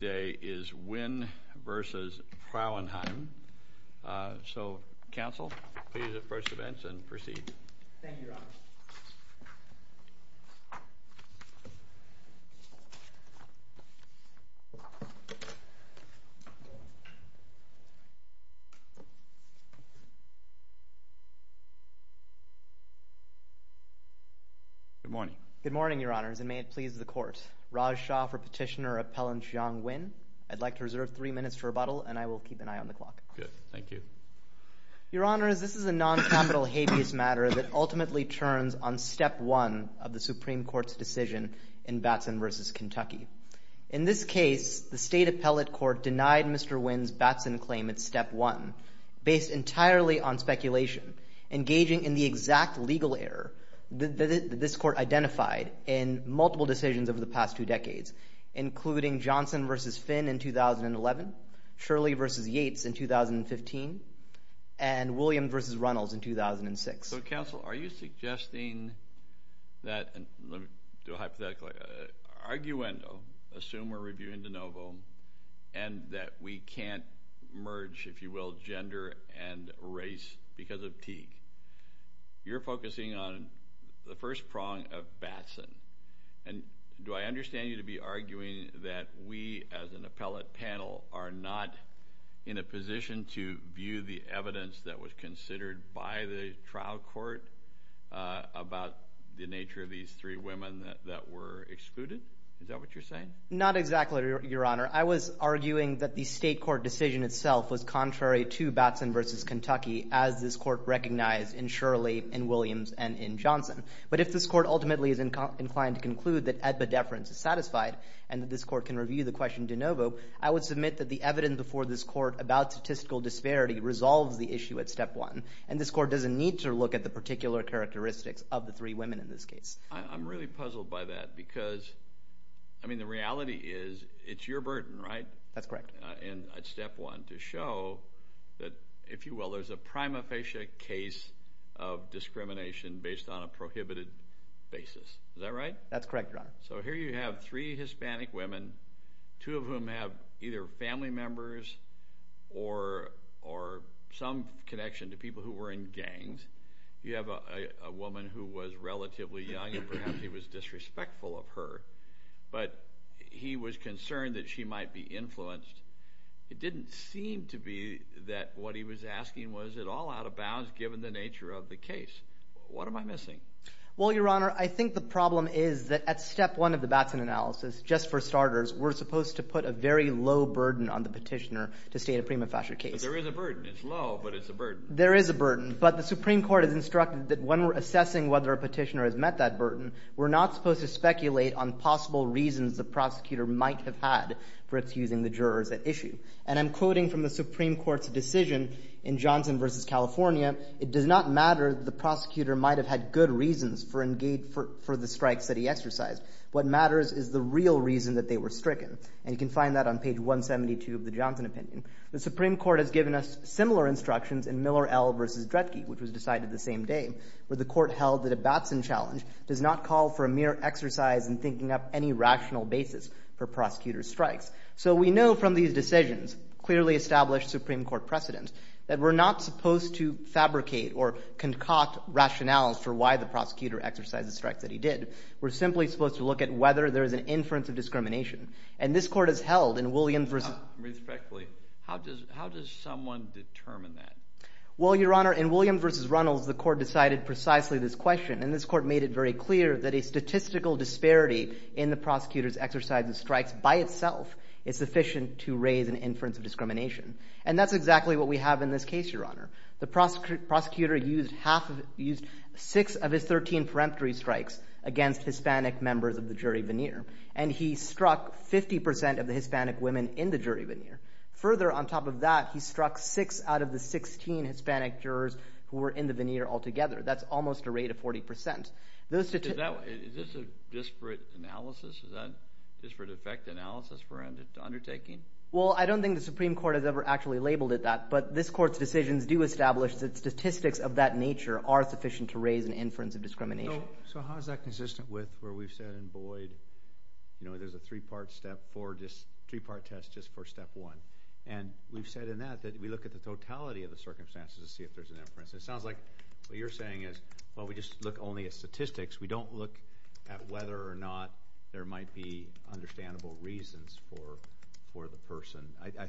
is Nguyen v. Frauenheim. So, counsel, please approach the bench and proceed. Thank you, Your Honor. Good morning. Good morning, Your Honors, and may it please the Court. Raj Shah for Petitioner Appellant Xiang Nguyen. I'd like to reserve three minutes for rebuttal, and I will keep an eye on the clock. Good. Thank you. Your Honors, this is a non-capital habeas matter that ultimately turns on Step 1 of the Supreme Court's decision in Batson v. Kentucky. In this case, the State Appellate Court denied Mr. Nguyen's Batson claim at Step 1, based entirely on speculation, engaging in the exact legal error that this Court identified in multiple decisions over the past two decades, including Johnson v. Finn in 2011, Shirley v. Yates in 2015, and William v. Runnels in 2006. So, counsel, are you suggesting that, hypothetically, an arguendo, assume we're reviewing de novo, and that we can't merge, if you will, gender and race because of Teague? You're focusing on the first prong of Batson, and do I understand you to be arguing that we, as an appellate panel, are not in a position to view the evidence that was considered by the trial court about the nature of these three women that were excluded? Is that what you're saying? Not exactly, Your Honor. I was arguing that the State Court decision itself was contrary to Batson v. Kentucky, as this Court recognized in Shirley, in Williams, and in Johnson. But if this Court ultimately is inclined to conclude that epidefference is satisfied and that this Court can review the question de novo, I would submit that the evidence before this Court about statistical disparity resolves the issue at Step 1, and this Court doesn't need to look at the particular characteristics of the three women in this case. I'm really puzzled by that because, I mean, the reality is it's your burden, right? That's correct. And I'd step one to show that, if you will, there's a prima facie case of discrimination based on a prohibited basis. Is that right? That's correct, Your Honor. So here you have three Hispanic women, two of whom have either family members or some connection to people who were in gangs. You have a woman who was relatively young, and perhaps he was disrespectful of her, but he was concerned that she might be influenced. It didn't seem to be that what he was asking was at all out of bounds given the nature of the case. What am I missing? Well, Your Honor, I think the problem is that at Step 1 of the Batson analysis, just for starters, we're supposed to put a very low burden on the petitioner to state a prima facie case. But there is a burden. It's low, but it's a burden. There is a burden, but the Supreme Court has instructed that when we're assessing whether a petitioner has met that burden, we're not supposed to speculate on possible reasons the prosecutor might have had for excusing the jurors at issue. And I'm quoting from the Supreme Court's decision in Johnson v. California, it does not matter that the prosecutor might have had good reasons for the strikes that he exercised. What matters is the real reason that they were stricken. And you can find that on page 172 of the Johnson opinion. The Supreme Court has given us similar instructions in Miller L. v. Dredge, which was decided the same day, where the court held that a Batson challenge does not call for a mere exercise in thinking up any rational basis for prosecutor strikes. So we know from these decisions, clearly established Supreme Court precedent, that we're not supposed to fabricate or concoct rationales for why the prosecutor exercised the strikes that he did. We're simply supposed to look at whether there is an inference of discrimination. And this court has held in William v. Respectfully, how does someone determine that? Well, Your Honor, in William v. Runnels, the court decided precisely this question. And this court made it very clear that a statistical disparity in the prosecutor's exercise of strikes by itself is sufficient to raise an inference of discrimination. And that's exactly what we have in this case, Your Honor. The prosecutor used six of his 13 peremptory strikes against Hispanic members of the jury veneer. And he struck 50 percent of the Hispanic women in the jury veneer. Further, on top of that, he struck six out of the 16 Hispanic jurors who were in the veneer altogether. That's almost a rate of 40 percent. Is this a disparate analysis? Is that disparate effect analysis for undertaking? Well, I don't think the Supreme Court has ever actually labeled it that. But this court's decisions do establish that statistics of that nature are sufficient to raise an inference of discrimination. So how is that consistent with where we've said in Boyd, you know, there's a three-part test just for step one? And we've said in that that we look at the totality of the circumstances to see if there's an inference. It sounds like what you're saying is, well, we just look only at statistics. We don't look at whether or not there might be understandable reasons for the person.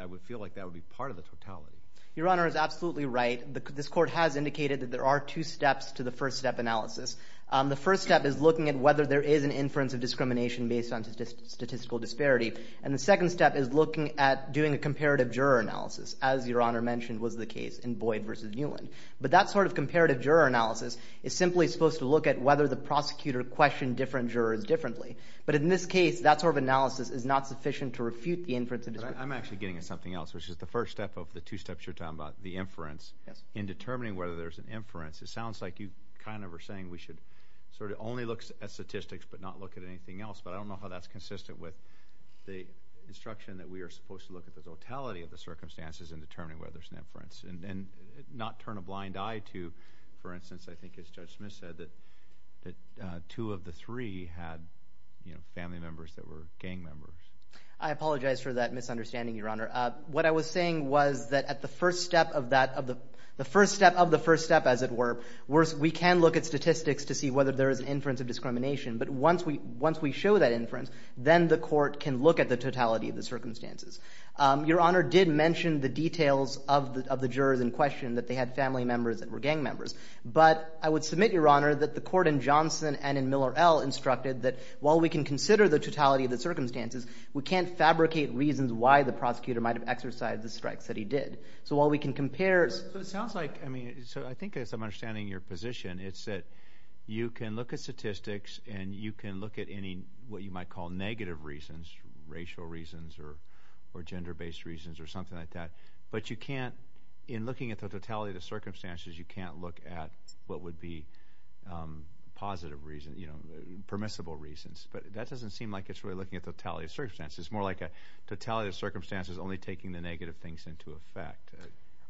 I would feel like that would be part of the totality. Your Honor is absolutely right. This court has indicated that there are two steps to the first step analysis. The first step is looking at whether there is an inference of discrimination based on statistical disparity. And the second step is looking at doing a comparative juror analysis, as Your Honor mentioned was the case in Boyd v. Newland. But that sort of comparative juror analysis is simply supposed to look at whether the prosecutor questioned different jurors differently. But in this case, that sort of analysis is not sufficient to refute the inference of discrimination. I'm actually getting at something else, which is the first step of the two steps you're talking about, the inference. In determining whether there's an inference, it sounds like you kind of are saying we should sort of only look at statistics but not look at anything else. But I don't know how that's consistent with the instruction that we are supposed to look at the totality of the circumstances in determining whether there's an inference and not turn a blind eye to, for instance, I think as Judge Smith said, that two of the three had, you know, family members that were gang members. I apologize for that misunderstanding, Your Honor. What I was saying was that at the first step of the first step, as it were, we can look at statistics to see whether there is an inference of discrimination. But once we show that inference, then the court can look at the totality of the circumstances. Your Honor did mention the details of the jurors in question that they had family members that were gang members. But I would submit, Your Honor, that the court in Johnson and in Miller L. instructed that while we can consider the totality of the circumstances, we can't fabricate reasons why the prosecutor might have exercised the strikes that he did. So while we can compare – So it sounds like – I mean, so I think as I'm understanding your position, it's that you can look at statistics and you can look at any – what you might call negative reasons, racial reasons or gender-based reasons or something like that. But you can't – in looking at the totality of the circumstances, you can't look at what would be positive reason, you know, permissible reasons. But that doesn't seem like it's really looking at the totality of circumstances. It's more like a totality of circumstances only taking the negative things into effect.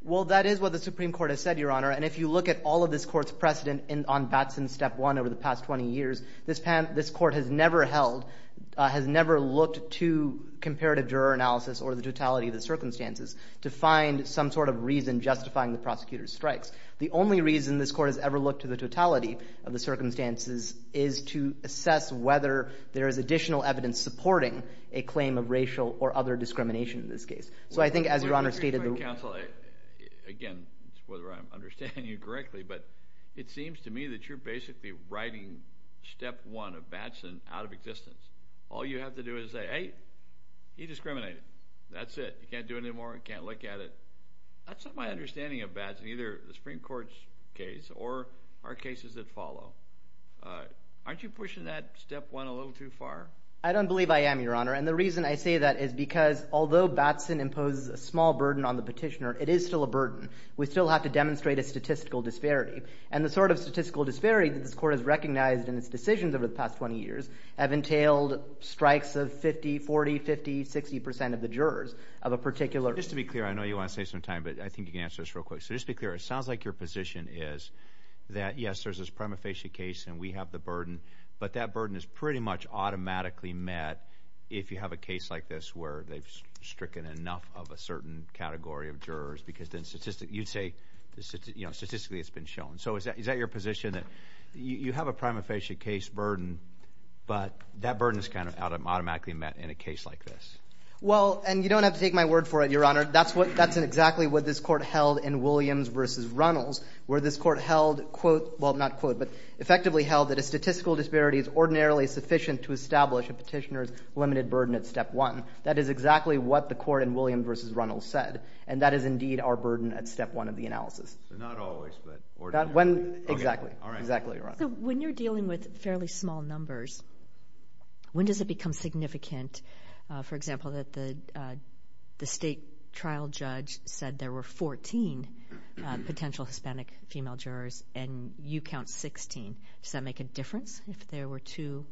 Well, that is what the Supreme Court has said, Your Honor. And if you look at all of this court's precedent on Batson's Step 1 over the past 20 years, this court has never held – has never looked to comparative juror analysis or the totality of the circumstances to find some sort of reason justifying the prosecutor's strikes. The only reason this court has ever looked to the totality of the circumstances is to assess whether there is additional evidence supporting a claim of racial or other discrimination in this case. So I think as Your Honor stated – Well, let me rephrase that, counsel. Again, it's whether I'm understanding you correctly, but it seems to me that you're basically writing Step 1 of Batson out of existence. All you have to do is say, hey, he discriminated. That's it. You can't do it anymore. You can't look at it. That's not my understanding of Batson, either the Supreme Court's case or our cases that follow. Aren't you pushing that Step 1 a little too far? I don't believe I am, Your Honor, and the reason I say that is because although Batson imposes a small burden on the petitioner, it is still a burden. We still have to demonstrate a statistical disparity, and the sort of statistical disparity that this court has recognized in its decisions over the past 20 years have entailed strikes of 50, 40, 50, 60 percent of the jurors of a particular – Just to be clear, I know you want to save some time, but I think you can answer this real quick. So just to be clear, it sounds like your position is that, yes, there's this prima facie case, and we have the burden, but that burden is pretty much automatically met if you have a case like this where they've stricken enough of a certain category of jurors because then you'd say statistically it's been shown. So is that your position, that you have a prima facie case burden, but that burden is kind of automatically met in a case like this? Well, and you don't have to take my word for it, Your Honor. That's what – that's exactly what this court held in Williams v. Runnels, where this court held, quote – well, not quote, but effectively held that a statistical disparity is ordinarily sufficient to establish a petitioner's limited burden at step one. That is exactly what the court in Williams v. Runnels said, and that is indeed our burden at step one of the analysis. So not always, but ordinarily? Exactly. All right. Exactly, Your Honor. So when you're dealing with fairly small numbers, when does it become significant, for example, that the state trial judge said there were 14 potential Hispanic female jurors and you count 16? Does that make a difference if there were two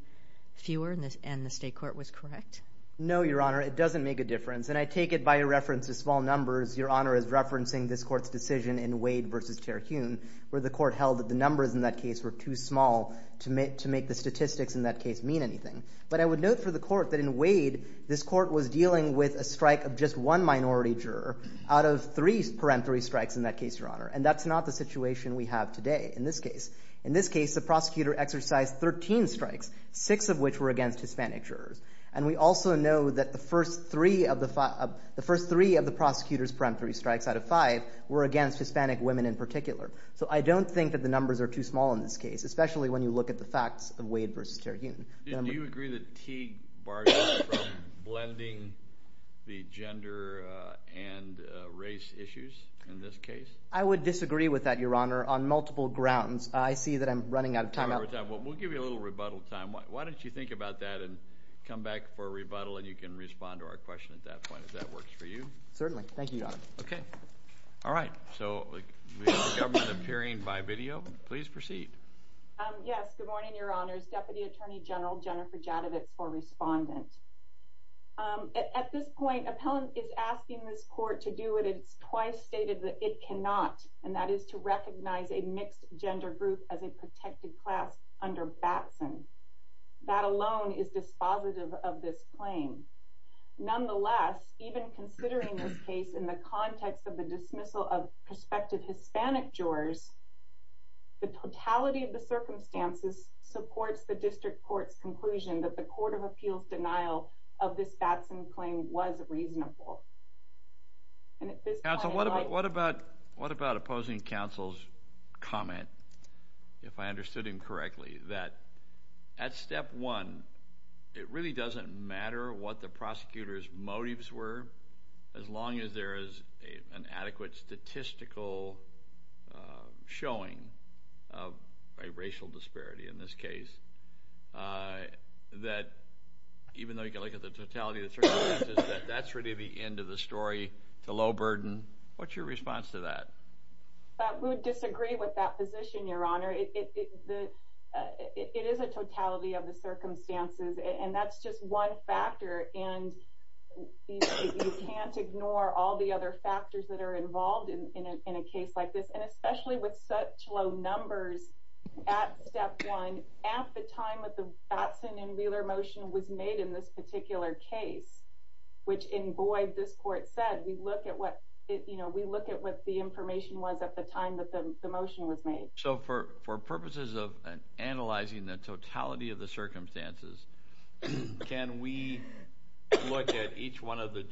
fewer and the state court was correct? No, Your Honor. It doesn't make a difference, and I take it by reference to small numbers, Your Honor, as referencing this court's decision in Wade v. Terhune, where the court held that the numbers in that case were too small to make the statistics in that case mean anything. But I would note for the court that in Wade, this court was dealing with a strike of just one minority juror out of three parenthal strikes in that case, Your Honor, and that's not the situation we have today in this case. In this case, the prosecutor exercised 13 strikes, six of which were against Hispanic jurors, and we also know that the first three of the prosecutor's parenthal strikes out of five were against Hispanic women in particular. So I don't think that the numbers are too small in this case, especially when you look at the facts of Wade v. Terhune. Do you agree that Teague barred you from blending the gender and race issues in this case? I would disagree with that, Your Honor, on multiple grounds. I see that I'm running out of time. We'll give you a little rebuttal time. Why don't you think about that and come back for a rebuttal, and you can respond to our question at that point if that works for you. Certainly. Thank you, Your Honor. Okay. All right. So we have the government appearing by video. Please proceed. Yes. Good morning, Your Honors. Deputy Attorney General Jennifer Jadavitz for respondent. At this point, appellant is asking this court to do what it has twice stated that it cannot, and that is to recognize a mixed gender group as a protected class under Batson. That alone is dispositive of this claim. Nonetheless, even considering this case in the context of the dismissal of prospective Hispanic jurors, the totality of the circumstances supports the district court's conclusion that the court of appeals denial of this Batson claim was reasonable. Counsel, what about opposing counsel's comment, if I understood him correctly, that at step one it really doesn't matter what the prosecutor's motives were, as long as there is an adequate statistical showing of a racial disparity in this case, that even though you can look at the totality of the circumstances, that that's really the end of the story, to low burden. What's your response to that? We would disagree with that position, Your Honor. It is a totality of the circumstances, and that's just one factor, and you can't ignore all the other factors that are involved in a case like this, and especially with such low numbers at step one, at the time that the Batson and Wheeler motion was made in this particular case, which in void this court said, we look at what the information was at the time that the motion was made. So for purposes of analyzing the totality of the circumstances, can we look at each one of the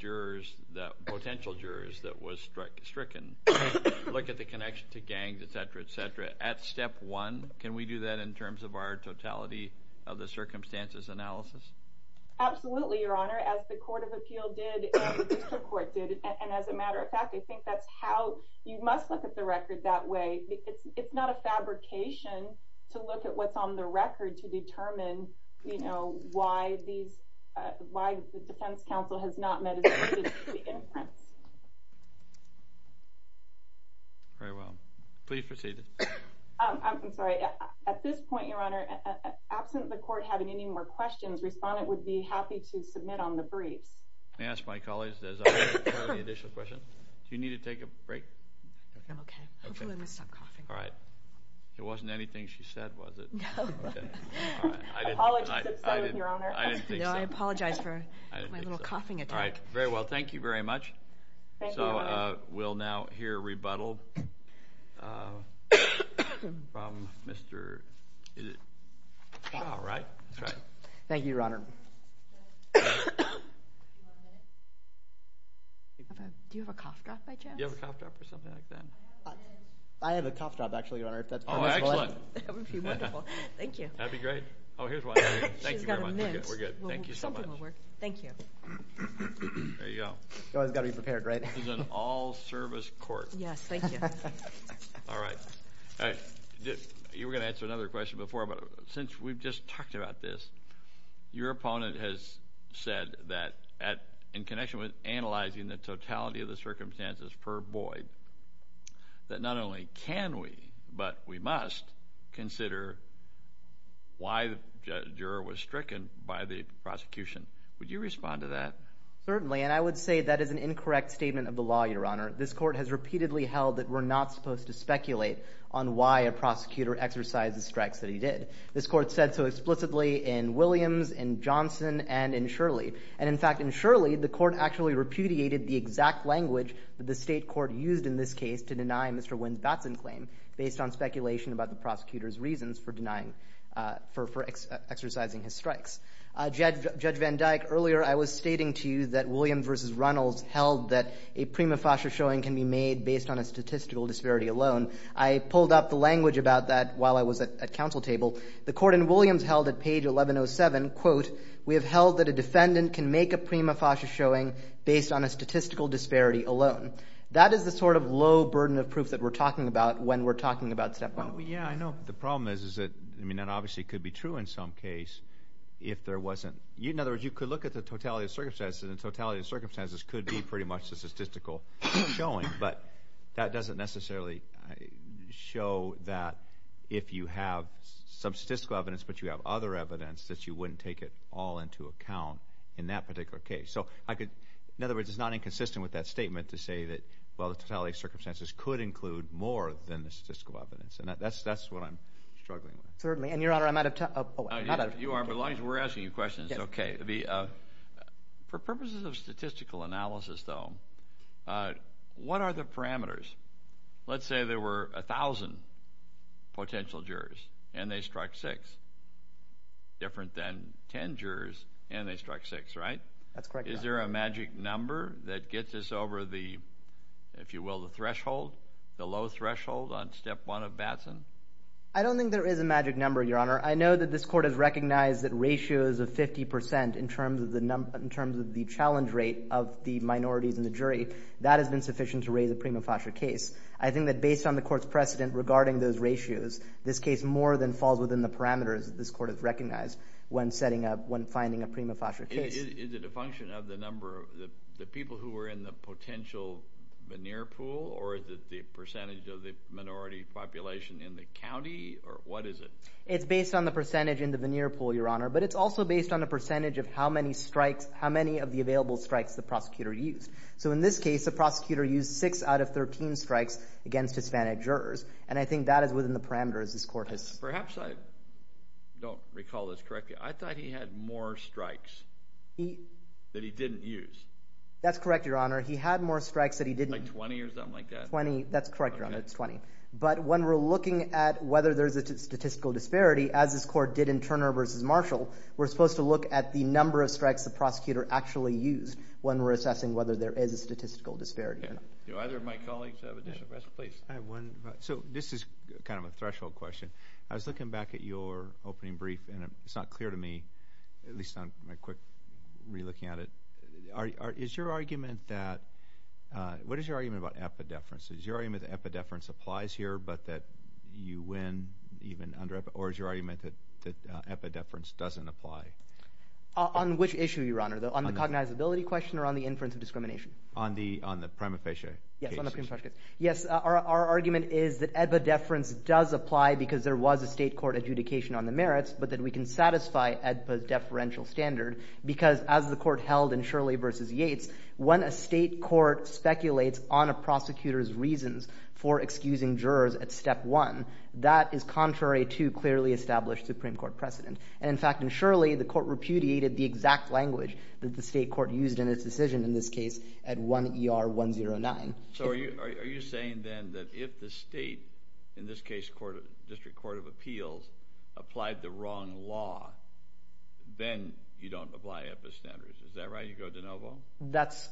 potential jurors that was stricken, look at the connection to gangs, et cetera, et cetera, at step one? Can we do that in terms of our totality of the circumstances analysis? Absolutely, Your Honor, as the Court of Appeal did and the District Court did, and as a matter of fact, I think that's how you must look at the record that way. It's not a fabrication to look at what's on the record to determine, you know, why the defense counsel has not meditated the inference. Very well. Please proceed. I'm sorry. At this point, Your Honor, absent the court having any more questions, Respondent would be happy to submit on the briefs. May I ask my colleagues, does anyone have any additional questions? Do you need to take a break? I'm okay. Hopefully I'm going to stop coughing. All right. It wasn't anything she said, was it? No. Apologies if so, Your Honor. I didn't think so. No, I apologize for my little coughing attack. All right. Very well. Thank you very much. Thank you, Your Honor. So we'll now hear rebuttal from Mr. All right. Thank you, Your Honor. Do you have a cough drop by chance? Do you have a cough drop or something like that? I have a cough drop, actually, Your Honor, if that's permissible. Oh, excellent. That would be wonderful. Thank you. That would be great. Oh, here's one. Thank you very much. She's got a mint. We're good. Thank you so much. Something will work. Thank you. There you go. You always got to be prepared, right? This is an all-service court. Yes, thank you. All right. You were going to answer another question before, but since we've just talked about this, your opponent has said that in connection with analyzing the totality of the circumstances per void, that not only can we, but we must consider why the juror was stricken by the prosecution. Would you respond to that? Certainly, and I would say that is an incorrect statement of the law, Your Honor. This court has repeatedly held that we're not supposed to speculate on why a prosecutor exercised the strikes that he did. This court said so explicitly in Williams, in Johnson, and in Shirley. And in fact, in Shirley, the court actually repudiated the exact language that the state court used in this case to deny Mr. Wynn's Batson claim based on speculation about the prosecutor's reasons for denying, for exercising his strikes. Judge Van Dyke, earlier I was stating to you that Williams v. Runnels held that a prima facie showing can be made based on a statistical disparity alone. I pulled up the language about that while I was at counsel table. The court in Williams held at page 1107, quote, we have held that a defendant can make a prima facie showing based on a statistical disparity alone. That is the sort of low burden of proof that we're talking about when we're talking about step one. Yeah, I know. The problem is that, I mean, that obviously could be true in some case if there wasn't. In other words, you could look at the totality of circumstances, and the totality of circumstances could be pretty much the statistical showing. But that doesn't necessarily show that if you have some statistical evidence but you have other evidence that you wouldn't take it all into account in that particular case. So I could, in other words, it's not inconsistent with that statement to say that, well, the totality of circumstances could include more than the statistical evidence. And that's what I'm struggling with. Certainly. And, Your Honor, I'm out of time. You are, but as long as we're asking you questions, it's okay. For purposes of statistical analysis, though, what are the parameters? Let's say there were 1,000 potential jurors and they struck six. Different than 10 jurors and they struck six, right? That's correct, Your Honor. Is there a magic number that gets us over the, if you will, the threshold, the low threshold on step one of Batson? I don't think there is a magic number, Your Honor. I know that this Court has recognized that ratios of 50% in terms of the challenge rate of the minorities in the jury, that has been sufficient to raise a prima facie case. I think that based on the Court's precedent regarding those ratios, this case more than falls within the parameters that this Court has recognized when setting up, when finding a prima facie case. Is it a function of the number of the people who were in the potential veneer pool or is it the percentage of the minority population in the county or what is it? It's based on the percentage in the veneer pool, Your Honor, but it's also based on the percentage of how many strikes, how many of the available strikes the prosecutor used. So in this case, the prosecutor used six out of 13 strikes against Hispanic jurors and I think that is within the parameters this Court has. Perhaps I don't recall this correctly. I thought he had more strikes that he didn't use. That's correct, Your Honor. He had more strikes that he didn't. Like 20 or something like that? 20. That's correct, Your Honor. It's 20. But when we're looking at whether there's a statistical disparity, as this Court did in Turner v. Marshall, we're supposed to look at the number of strikes the prosecutor actually used when we're assessing whether there is a statistical disparity or not. Do either of my colleagues have additional questions? Please. I have one. So this is kind of a threshold question. I was looking back at your opening brief and it's not clear to me, at least on my quick re-looking at it, is your argument that – what is your argument about epidefferences? Is your argument that epidefference applies here but that you win even under – or is your argument that epidefference doesn't apply? On which issue, Your Honor? On the cognizability question or on the inference of discrimination? On the prima facie cases. Yes, on the prima facie cases. Yes. Our argument is that epidefference does apply because there was a state court adjudication on the merits, but that we can satisfy EDPA's deferential standard because as the Court speculates on a prosecutor's reasons for excusing jurors at step one, that is contrary to clearly established Supreme Court precedent. And in fact, and surely the Court repudiated the exact language that the state court used in its decision in this case at 1 ER 109. So are you saying then that if the state, in this case District Court of Appeals, applied the wrong law, then you don't apply EDPA's standards. Is that right? You go de novo? That's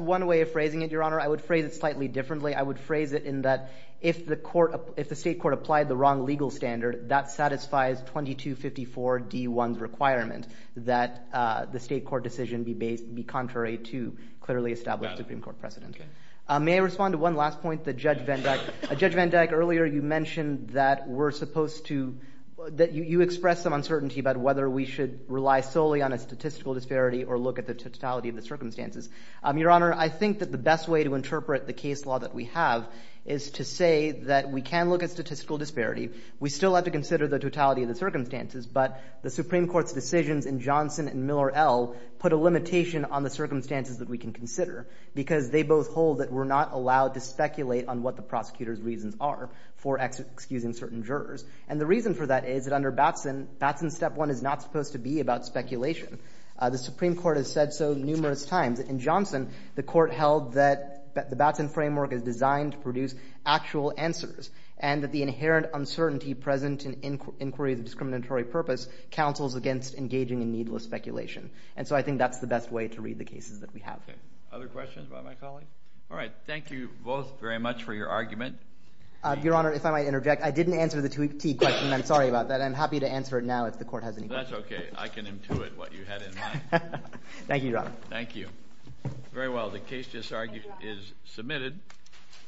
one way of phrasing it, Your Honor. I would phrase it slightly differently. I would phrase it in that if the state court applied the wrong legal standard, that satisfies 2254 D1's requirement that the state court decision be contrary to clearly established Supreme Court precedent. May I respond to one last point that Judge Van Dyck? Judge Van Dyck, earlier you mentioned that we're supposed to, that you expressed some uncertainty about whether we should rely solely on a statistical disparity or look at the totality of the circumstances. Your Honor, I think that the best way to interpret the case law that we have is to say that we can look at statistical disparity. We still have to consider the totality of the circumstances, but the Supreme Court's decisions in Johnson and Miller L put a limitation on the circumstances that we can consider because they both hold that we're not allowed to speculate on what the prosecutor's reasons are for excusing certain jurors. And the reason for that is that under Batson, Batson's step one is not supposed to be about speculation. The Supreme Court has said so numerous times. In Johnson, the court held that the Batson framework is designed to produce actual answers and that the inherent uncertainty present in inquiry of the discriminatory purpose counsels against engaging in needless speculation. And so I think that's the best way to read the cases that we have. Okay. Other questions about my colleague? All right. Thank you both very much for your argument. Your Honor, if I might interject, I didn't answer the two-key question. I'm sorry about that. I'm happy to answer it now if the Court has any questions. That's okay. I can intuit what you had in mind. Thank you, Your Honor. Thank you. Very well. The case is submitted.